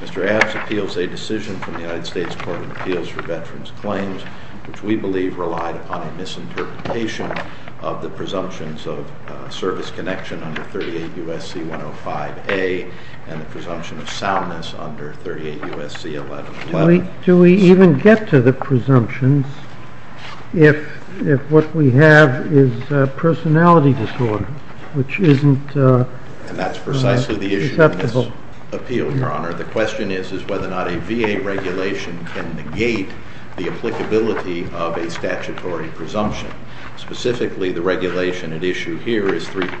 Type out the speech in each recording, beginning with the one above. Mr. Abbs appeals a decision from the United States Court of Appeals for Veterans Claims which we believe relied upon a misinterpretation of the presumptions of service connection under 38 U.S.C. 105a and the presumption of soundness under 38 U.S.C. 111. Do we even get to the presumptions if what we have is a personality disorder which isn't acceptable? And that's precisely the issue in this appeal, Your Honor. The question is whether or not a VA regulation can negate the applicability of a statutory presumption. Specifically, the regulation at issue here is 38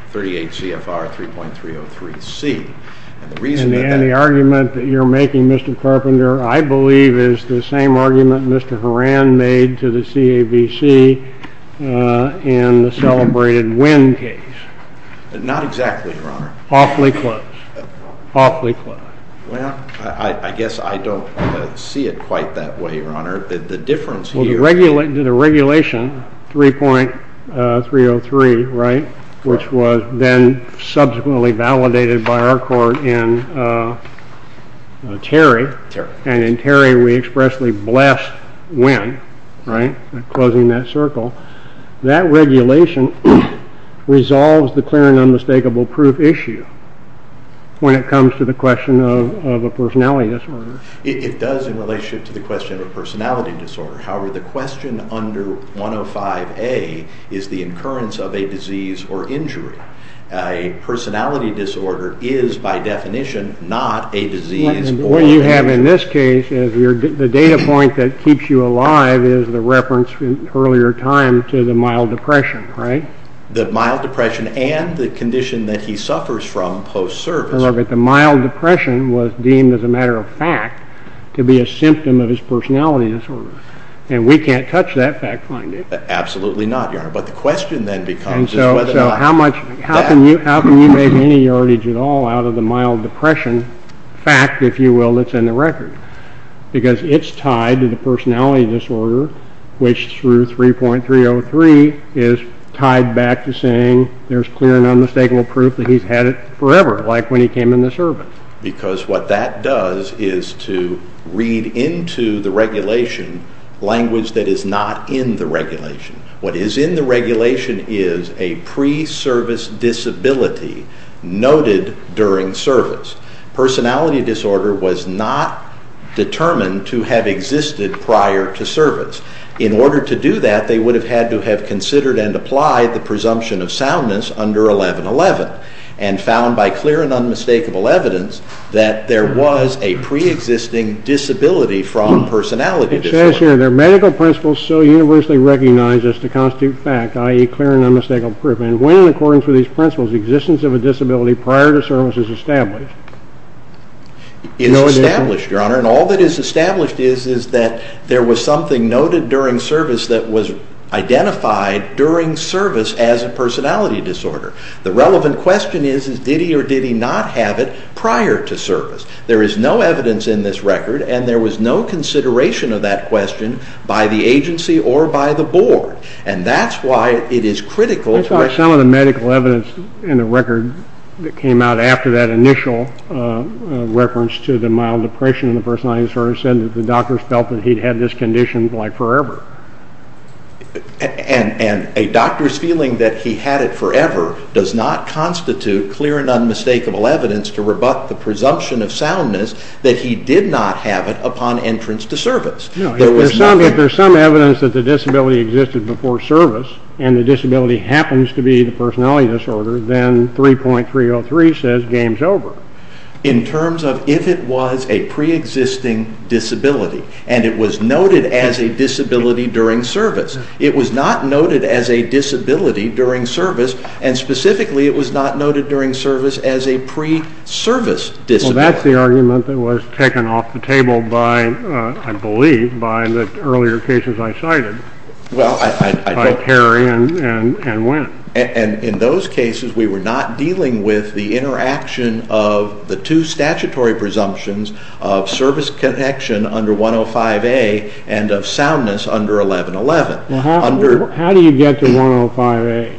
CFR 3.303C. And the argument that you're making, Mr. Carpenter, I believe is the same argument Mr. Horan made to the CAVC in the celebrated Wynn case. Not exactly, Your Honor. Awfully close. Awfully close. Well, I guess I don't see it quite that way, Your Honor. The difference here… The regulation 3.303, right, which was then subsequently validated by our court in Terry, and in Terry we expressly blessed Wynn, right, closing that circle. That regulation resolves the clear and unmistakable proof issue when it comes to the question of a personality disorder. It does in relationship to the question of a personality disorder. However, the question under 105A is the incurrence of a disease or injury. A personality disorder is by definition not a disease or injury. What you have in this case is the data point that keeps you alive is the reference in earlier time to the mild depression, right? The mild depression and the condition that he suffers from post-service. But the mild depression was deemed as a matter of fact to be a symptom of his personality disorder. And we can't touch that fact-finding. Absolutely not, Your Honor. But the question then becomes is whether or not… And so how much – how can you make any yardage at all out of the mild depression fact, if you will, that's in the record? Because it's tied to the personality disorder, which through 3.303 is tied back to saying there's clear and unmistakable proof that he's had it forever. Like when he came into service. Because what that does is to read into the regulation language that is not in the regulation. What is in the regulation is a pre-service disability noted during service. Personality disorder was not determined to have existed prior to service. In order to do that, they would have had to have considered and applied the presumption of soundness under 1111. And found by clear and unmistakable evidence that there was a pre-existing disability from personality disorder. It says here, there are medical principles so universally recognized as to constitute fact, i.e. clear and unmistakable proof. And when in accordance with these principles, existence of a disability prior to service is established. It's established, Your Honor. And all that is established is that there was something noted during service that was identified during service as a personality disorder. The relevant question is, did he or did he not have it prior to service? There is no evidence in this record and there was no consideration of that question by the agency or by the board. And that's why it is critical. That's why some of the medical evidence in the record that came out after that initial reference to the mild depression in the personality disorder said that the doctors felt that he'd had this condition like forever. And a doctor's feeling that he had it forever does not constitute clear and unmistakable evidence to rebut the presumption of soundness that he did not have it upon entrance to service. If there's some evidence that the disability existed before service and the disability happens to be the personality disorder, then 3.303 says game's over. In terms of if it was a pre-existing disability and it was noted as a disability during service. It was not noted as a disability during service and specifically it was not noted during service as a pre-service disability. Well, that's the argument that was taken off the table by, I believe, by the earlier cases I cited by Terry and Wynn. And in those cases we were not dealing with the interaction of the two statutory presumptions of service connection under 105A and of soundness under 1111. How do you get to 105A?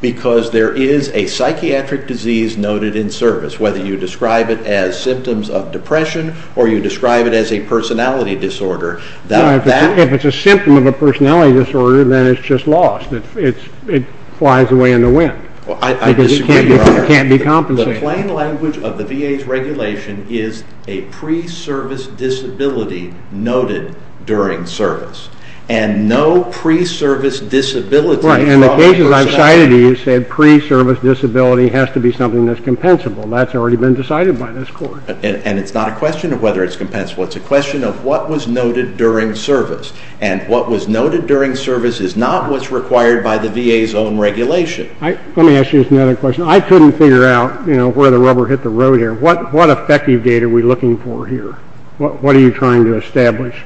Because there is a psychiatric disease noted in service. Whether you describe it as symptoms of depression or you describe it as a personality disorder. If it's a symptom of a personality disorder, then it's just lost. It flies away in the wind. I disagree, Your Honor. It can't be compensated. The plain language of the VA's regulation is a pre-service disability noted during service. And no pre-service disability. Right, and the cases I've cited to you said pre-service disability has to be something that's compensable. That's already been decided by this court. And it's not a question of whether it's compensable. It's a question of what was noted during service. And what was noted during service is not what's required by the VA's own regulation. Let me ask you another question. I couldn't figure out where the rubber hit the road here. What effective date are we looking for here? What are you trying to establish?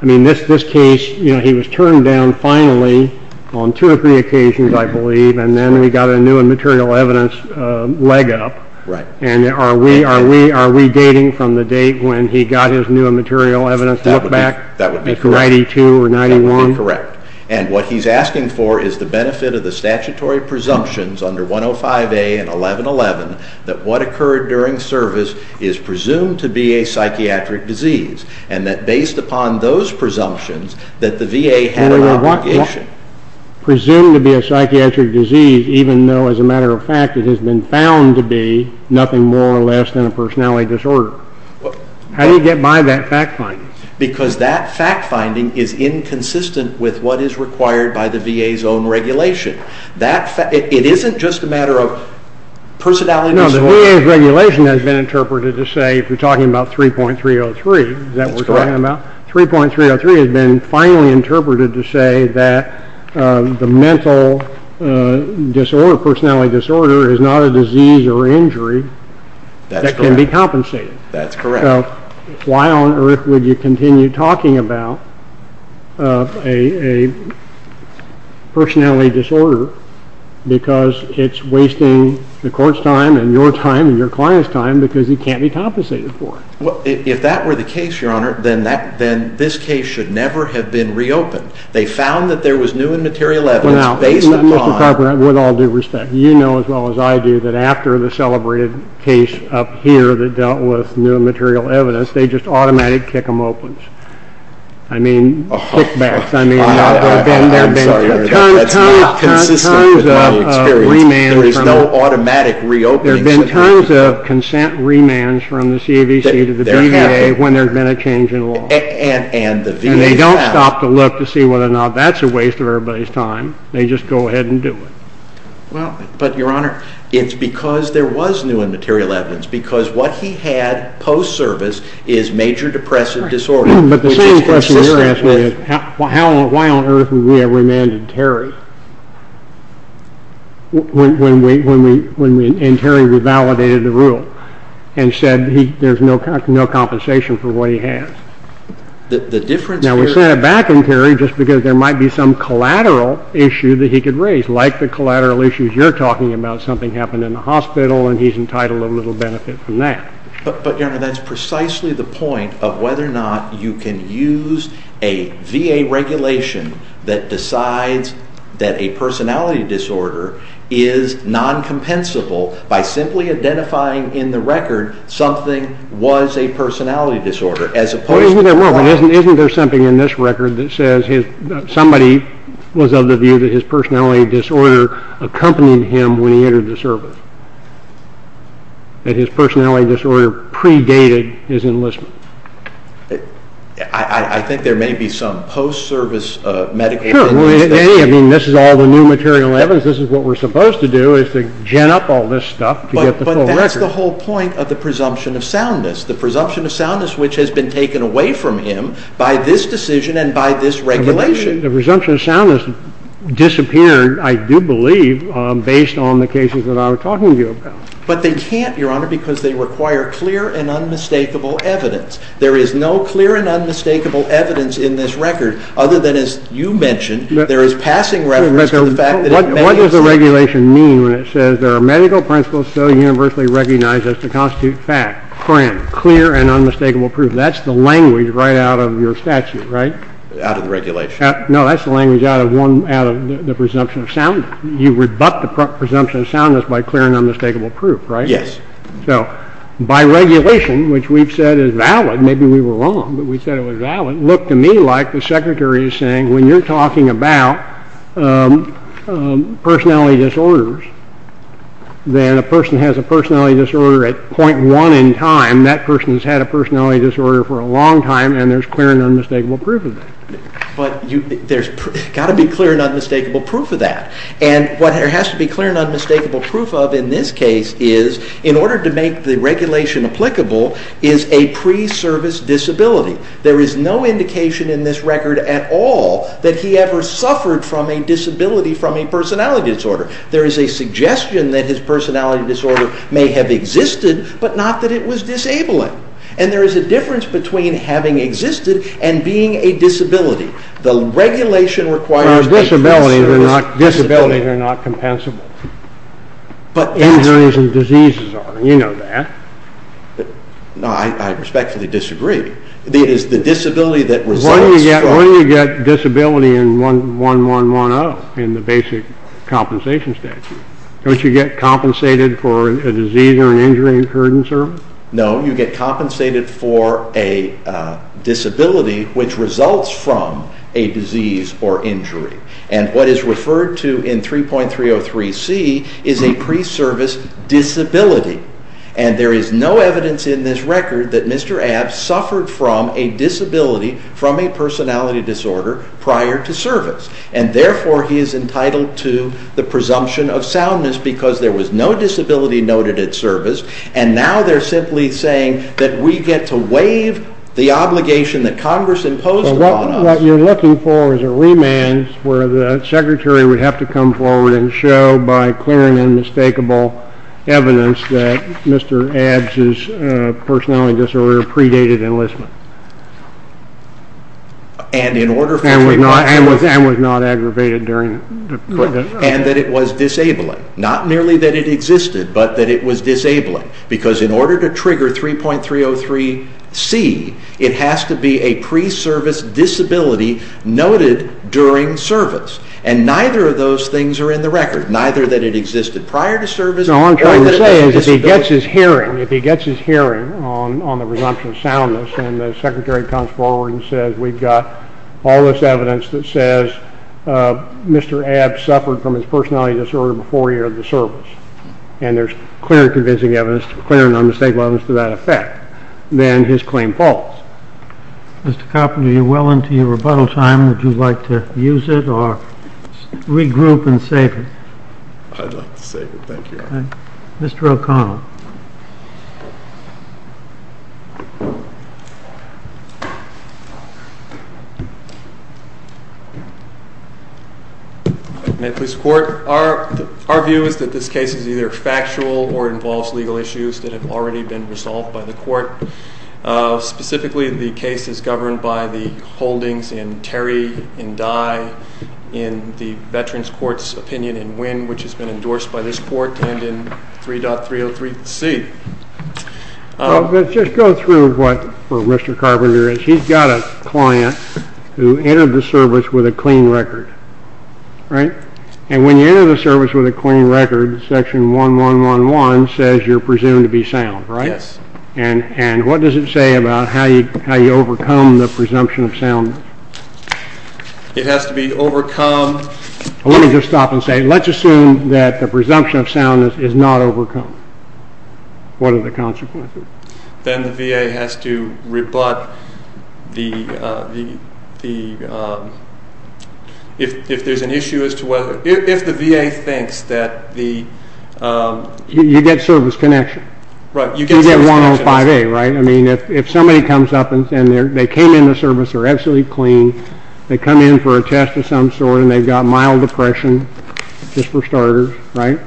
I mean, this case, he was turned down finally on two or three occasions, I believe, and then we got a new and material evidence leg up. Right. And are we dating from the date when he got his new and material evidence look back? That would be correct. Like 92 or 91? That would be correct. And what he's asking for is the benefit of the statutory presumptions under 105A and 1111 that what occurred during service is presumed to be a psychiatric disease and that based upon those presumptions that the VA had an obligation. Presumed to be a psychiatric disease even though, as a matter of fact, it has been found to be nothing more or less than a personality disorder. How do you get by that fact finding? Because that fact finding is inconsistent with what is required by the VA's own regulation. It isn't just a matter of personality disorder. No, the VA's regulation has been interpreted to say, if we're talking about 3.303, is that what we're talking about? That's correct. 3.303 has been finally interpreted to say that the mental disorder, personality disorder, is not a disease or injury that can be compensated. That's correct. So why on earth would you continue talking about a personality disorder because it's wasting the court's time and your time and your client's time because it can't be compensated for? If that were the case, Your Honor, then this case should never have been reopened. They found that there was new and material evidence based upon Now, Mr. Carpenter, with all due respect, you know as well as I do that after the celebrated case up here that dealt with new and material evidence, they just automatically kick them open. I mean, kick back. I'm sorry. That's not consistent with my experience. There is no automatic reopening situation. In terms of consent remands from the CAVC to the BVA when there's been a change in law. And they don't stop to look to see whether or not that's a waste of everybody's time. They just go ahead and do it. But, Your Honor, it's because there was new and material evidence because what he had post-service is major depressive disorder. But the same question you're asking is why on earth would we have remanded Terry when Terry revalidated the rule and said there's no compensation for what he has. Now, we sent it back to Terry just because there might be some collateral issue that he could raise. Like the collateral issues you're talking about, something happened in the hospital and he's entitled a little benefit from that. But, Your Honor, that's precisely the point of whether or not you can use a VA regulation that decides that a personality disorder is non-compensable by simply identifying in the record something was a personality disorder. Isn't there something in this record that says somebody was of the view that his personality disorder accompanied him when he entered the service? That his personality disorder predated his enlistment? I think there may be some post-service medication. Sure. I mean, this is all the new material evidence. This is what we're supposed to do is to gen up all this stuff to get the full record. But that's the whole point of the presumption of soundness, the presumption of soundness which has been taken away from him by this decision and by this regulation. The presumption of soundness disappeared, I do believe, based on the cases that I was talking to you about. But they can't, Your Honor, because they require clear and unmistakable evidence. There is no clear and unmistakable evidence in this record other than, as you mentioned, there is passing reference to the fact that it may exist. What does the regulation mean when it says, there are medical principles so universally recognized as to constitute fact, CRAM, clear and unmistakable proof. That's the language right out of your statute, right? Out of the regulation. No, that's the language out of the presumption of soundness. You rebut the presumption of soundness by clear and unmistakable proof, right? Yes. So by regulation, which we've said is valid, maybe we were wrong, but we said it was valid, looked to me like the Secretary is saying when you're talking about personality disorders, then a person has a personality disorder at point one in time, that person has had a personality disorder for a long time, and there's clear and unmistakable proof of that. But there's got to be clear and unmistakable proof of that. And what there has to be clear and unmistakable proof of in this case is, in order to make the regulation applicable, is a pre-service disability. There is no indication in this record at all that he ever suffered from a disability from a personality disorder. There is a suggestion that his personality disorder may have existed, but not that it was disabling. And there is a difference between having existed and being a disability. The regulation requires... Disabilities are not compensable. But... Injuries and diseases are, and you know that. No, I respectfully disagree. It is the disability that results from... When do you get disability in 1110 in the basic compensation statute? Don't you get compensated for a disease or an injury incurred in service? No, you get compensated for a disability, which results from a disease or injury. And what is referred to in 3.303C is a pre-service disability. And there is no evidence in this record that Mr. Abbs suffered from a disability from a personality disorder prior to service. And therefore, he is entitled to the presumption of soundness because there was no disability noted at service, and now they're simply saying that we get to waive the obligation that Congress imposed upon us. Well, what you're looking for is a remand where the secretary would have to come forward and show by clearing unmistakable evidence that Mr. Abbs' personality disorder predated enlistment. And in order for him... And was not aggravated during... And that it was disabling. Not merely that it existed, but that it was disabling. Because in order to trigger 3.303C, it has to be a pre-service disability noted during service. And neither of those things are in the record. Neither that it existed prior to service... No, what I'm trying to say is if he gets his hearing, if he gets his hearing on the presumption of soundness and the secretary comes forward and says, we've got all this evidence that says Mr. Abbs suffered from his personality disorder before he entered the service, and there's clear and convincing evidence, clear and unmistakable evidence to that effect, then his claim falls. Mr. Carpenter, you're well into your rebuttal time. Would you like to use it or regroup and save it? I'd like to save it, thank you. Mr. O'Connell. May it please the Court? Our view is that this case is either factual or involves legal issues that have already been resolved by the Court. Specifically, the case is governed by the holdings in Terry, in Dye, in the Veterans Court's opinion in Winn, which has been endorsed by this Court, and in 3.303C. Let's just go through what Mr. Carpenter is. He's got a client who entered the service with a clean record, right? And when you enter the service with a clean record, section 1111 says you're presumed to be sound, right? Yes. And what does it say about how you overcome the presumption of soundness? It has to be overcome. Let me just stop and say, let's assume that the presumption of soundness is not overcome. What are the consequences? Then the VA has to rebut the, if there's an issue as to whether, if the VA thinks that the... You get service connection. Right, you get service connection. You get 105A, right? I mean, if somebody comes up and they came into service, they're absolutely clean, they come in for a test of some sort and they've got mild depression, just for starters, right?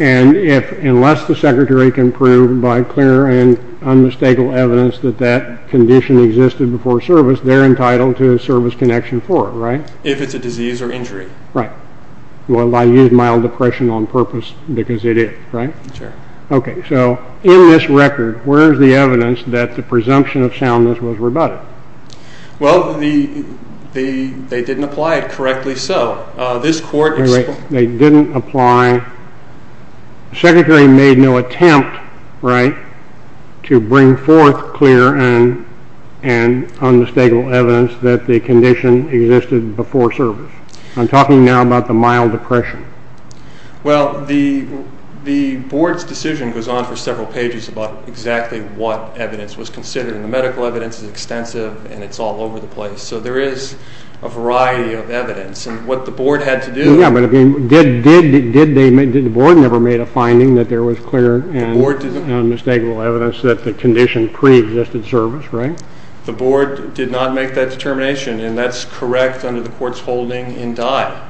And unless the secretary can prove by clear and unmistakable evidence that that condition existed before service, they're entitled to a service connection for it, right? If it's a disease or injury. Right. Well, I use mild depression on purpose because it is, right? Sure. Okay, so in this record, where is the evidence that the presumption of soundness was rebutted? Well, they didn't apply it correctly, so this court... They didn't apply... The secretary made no attempt, right, to bring forth clear and unmistakable evidence that the condition existed before service. I'm talking now about the mild depression. Well, the board's decision goes on for several pages about exactly what evidence was considered, and the medical evidence is extensive and it's all over the place. So there is a variety of evidence, and what the board had to do... Yeah, but did the board never made a finding that there was clear and unmistakable evidence that the condition preexisted service, right? The board did not make that determination, and that's correct under the court's holding in Dye.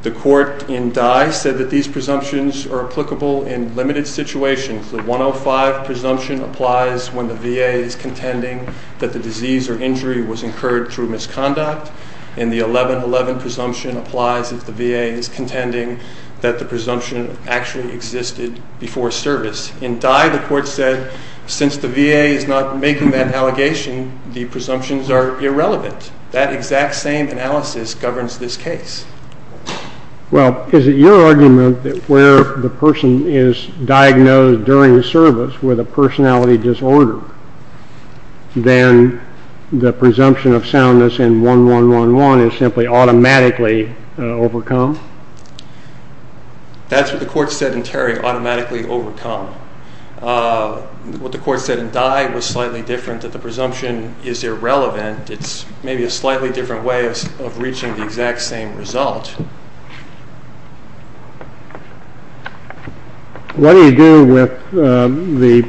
The court in Dye said that these presumptions are applicable in limited situations. The 105 presumption applies when the VA is contending that the disease or injury was incurred through misconduct, and the 1111 presumption applies if the VA is contending that the presumption actually existed before service. In Dye, the court said since the VA is not making that allegation, the presumptions are irrelevant. That exact same analysis governs this case. Well, is it your argument that where the person is diagnosed during service with a personality disorder, then the presumption of soundness in 1111 is simply automatically overcome? That's what the court said in Terry, automatically overcome. What the court said in Dye was slightly different, that the presumption is irrelevant. It's maybe a slightly different way of reaching the exact same result. What do you do with the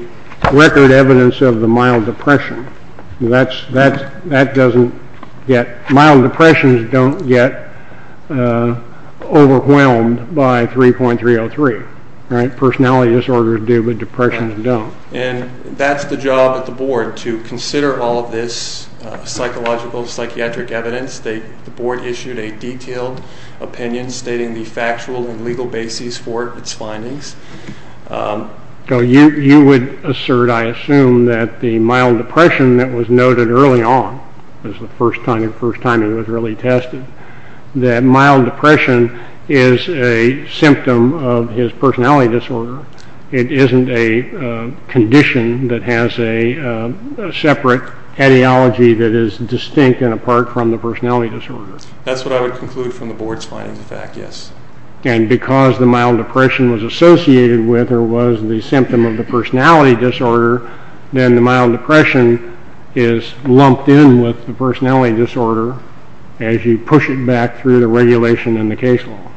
record evidence of the mild depression? Mild depressions don't get overwhelmed by 3.303, right? Personality disorders do, but depressions don't. And that's the job of the board, to consider all of this psychological, psychiatric evidence. The board issued a detailed opinion stating the factual and legal basis for its findings. So you would assert, I assume, that the mild depression that was noted early on, was the first time it was really tested, that mild depression is a symptom of his personality disorder. It isn't a condition that has a separate ideology that is distinct and apart from the personality disorder. That's what I would conclude from the board's findings, in fact, yes. And because the mild depression was associated with or was the symptom of the personality disorder, then the mild depression is lumped in with the personality disorder as you push it back through the regulation in the case law.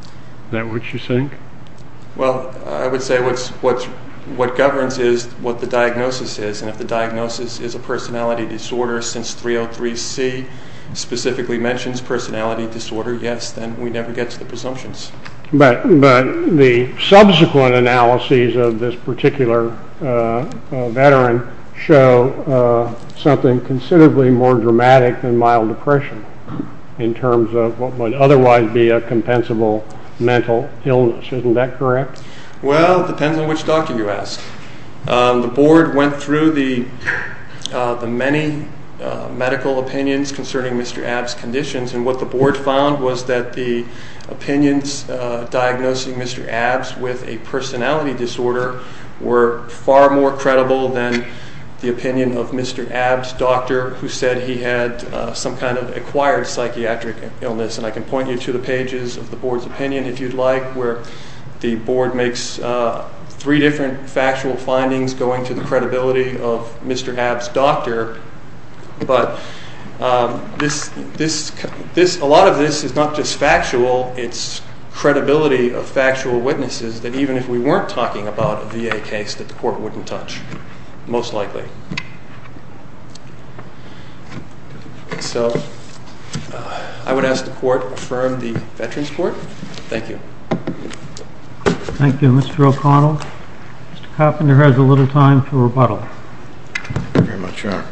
Is that what you think? Well, I would say what governs is what the diagnosis is, and if the diagnosis is a personality disorder since 3.03c specifically mentions personality disorder, yes, then we never get to the presumptions. But the subsequent analyses of this particular veteran show something considerably more dramatic than mild depression in terms of what would otherwise be a compensable mental illness. Isn't that correct? Well, it depends on which doctor you ask. The board went through the many medical opinions concerning Mr. Abt's conditions, and what the board found was that the opinions diagnosing Mr. Abt with a personality disorder were far more credible than the opinion of Mr. Abt's doctor, who said he had some kind of acquired psychiatric illness. And I can point you to the pages of the board's opinion, if you'd like, where the board makes three different factual findings going to the credibility of Mr. Abt's doctor. It's credibility of factual witnesses that even if we weren't talking about a VA case, that the court wouldn't touch, most likely. So I would ask the court to affirm the Veterans Court. Thank you. Thank you, Mr. O'Connell. Mr. Koffinger has a little time for rebuttal. Thank you very much, Your Honor.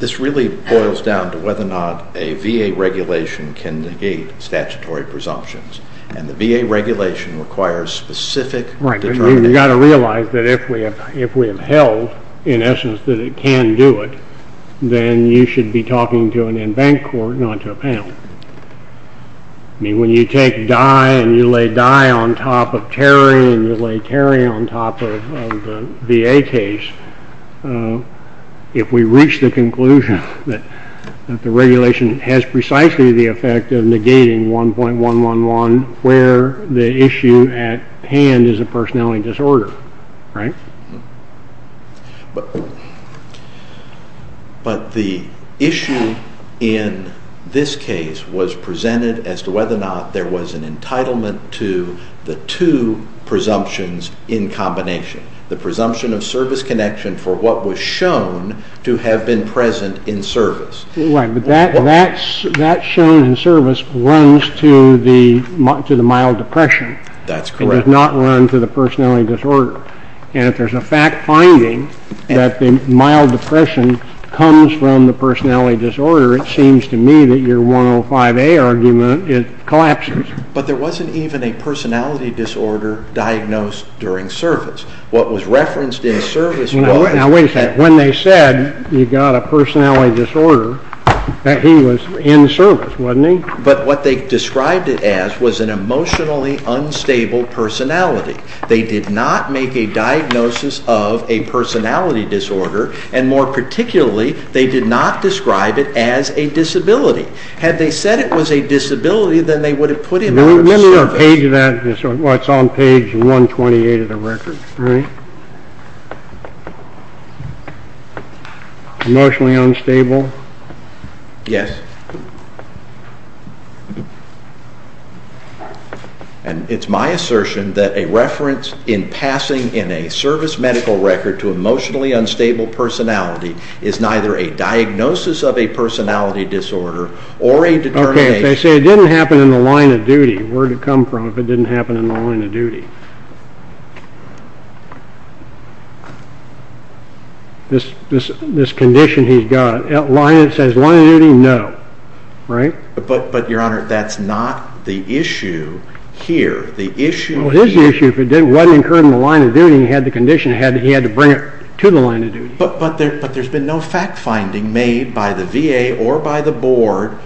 This really boils down to whether or not a VA regulation can negate statutory presumptions, and the VA regulation requires specific determination. Right. You've got to realize that if we have held, in essence, that it can do it, then you should be talking to an in-bank court, not to a panel. I mean, when you take Dye and you lay Dye on top of Terry and you lay Terry on top of the VA case, if we reach the conclusion that the regulation has precisely the effect of negating 1.111 where the issue at hand is a personality disorder, right? But the issue in this case was presented as to whether or not there was an entitlement to the two presumptions in combination, the presumption of service connection for what was shown to have been present in service. Right, but that shown in service runs to the mild depression. That's correct. It does not run to the personality disorder. And if there's a fact finding that the mild depression comes from the personality disorder, it seems to me that your 105A argument collapses. But there wasn't even a personality disorder diagnosed during service. What was referenced in service was that... Now wait a second. When they said you got a personality disorder, that he was in service, wasn't he? But what they described it as was an emotionally unstable personality. They did not make a diagnosis of a personality disorder, and more particularly, they did not describe it as a disability. Had they said it was a disability, then they would have put it out of service. Let me look at the page of that. It's on page 128 of the record, right? Emotionally unstable? Yes. And it's my assertion that a reference in passing in a service medical record to emotionally unstable personality is neither a diagnosis of a personality disorder or a determination... Okay, if they say it didn't happen in the line of duty, where did it come from if it didn't happen in the line of duty? This condition he's got, it says line of duty, no, right? But, Your Honor, that's not the issue here. Well, his issue, if it wasn't incurred in the line of duty, meaning he had the condition, he had to bring it to the line of duty. But there's been no fact-finding made by the VA or by the board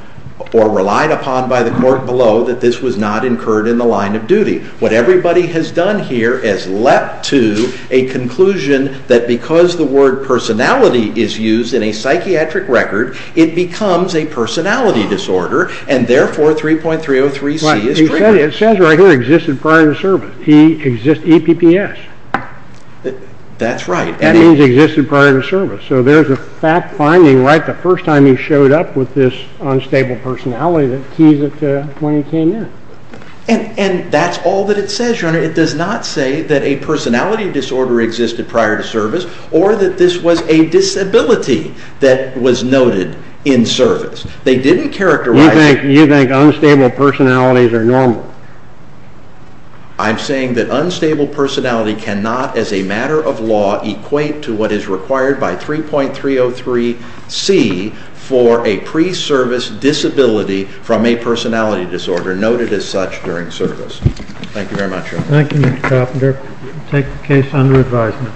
or relied upon by the court below that this was not incurred in the line of duty. What everybody has done here has led to a conclusion that because the word personality is used in a psychiatric record, it becomes a personality disorder, and therefore 3.303C is triggered. It says right here existed prior to service. He exists EPPS. That's right. That means existed prior to service. So there's a fact-finding right the first time he showed up with this unstable personality that keys it to when he came in. And that's all that it says, Your Honor. It does not say that a personality disorder existed prior to service or that this was a disability that was noted in service. They didn't characterize... You think unstable personalities are normal. I'm saying that unstable personality cannot, as a matter of law, equate to what is required by 3.303C for a pre-service disability from a personality disorder noted as such during service. Thank you very much, Your Honor. Thank you, Mr. Carpenter. We take the case under advisement.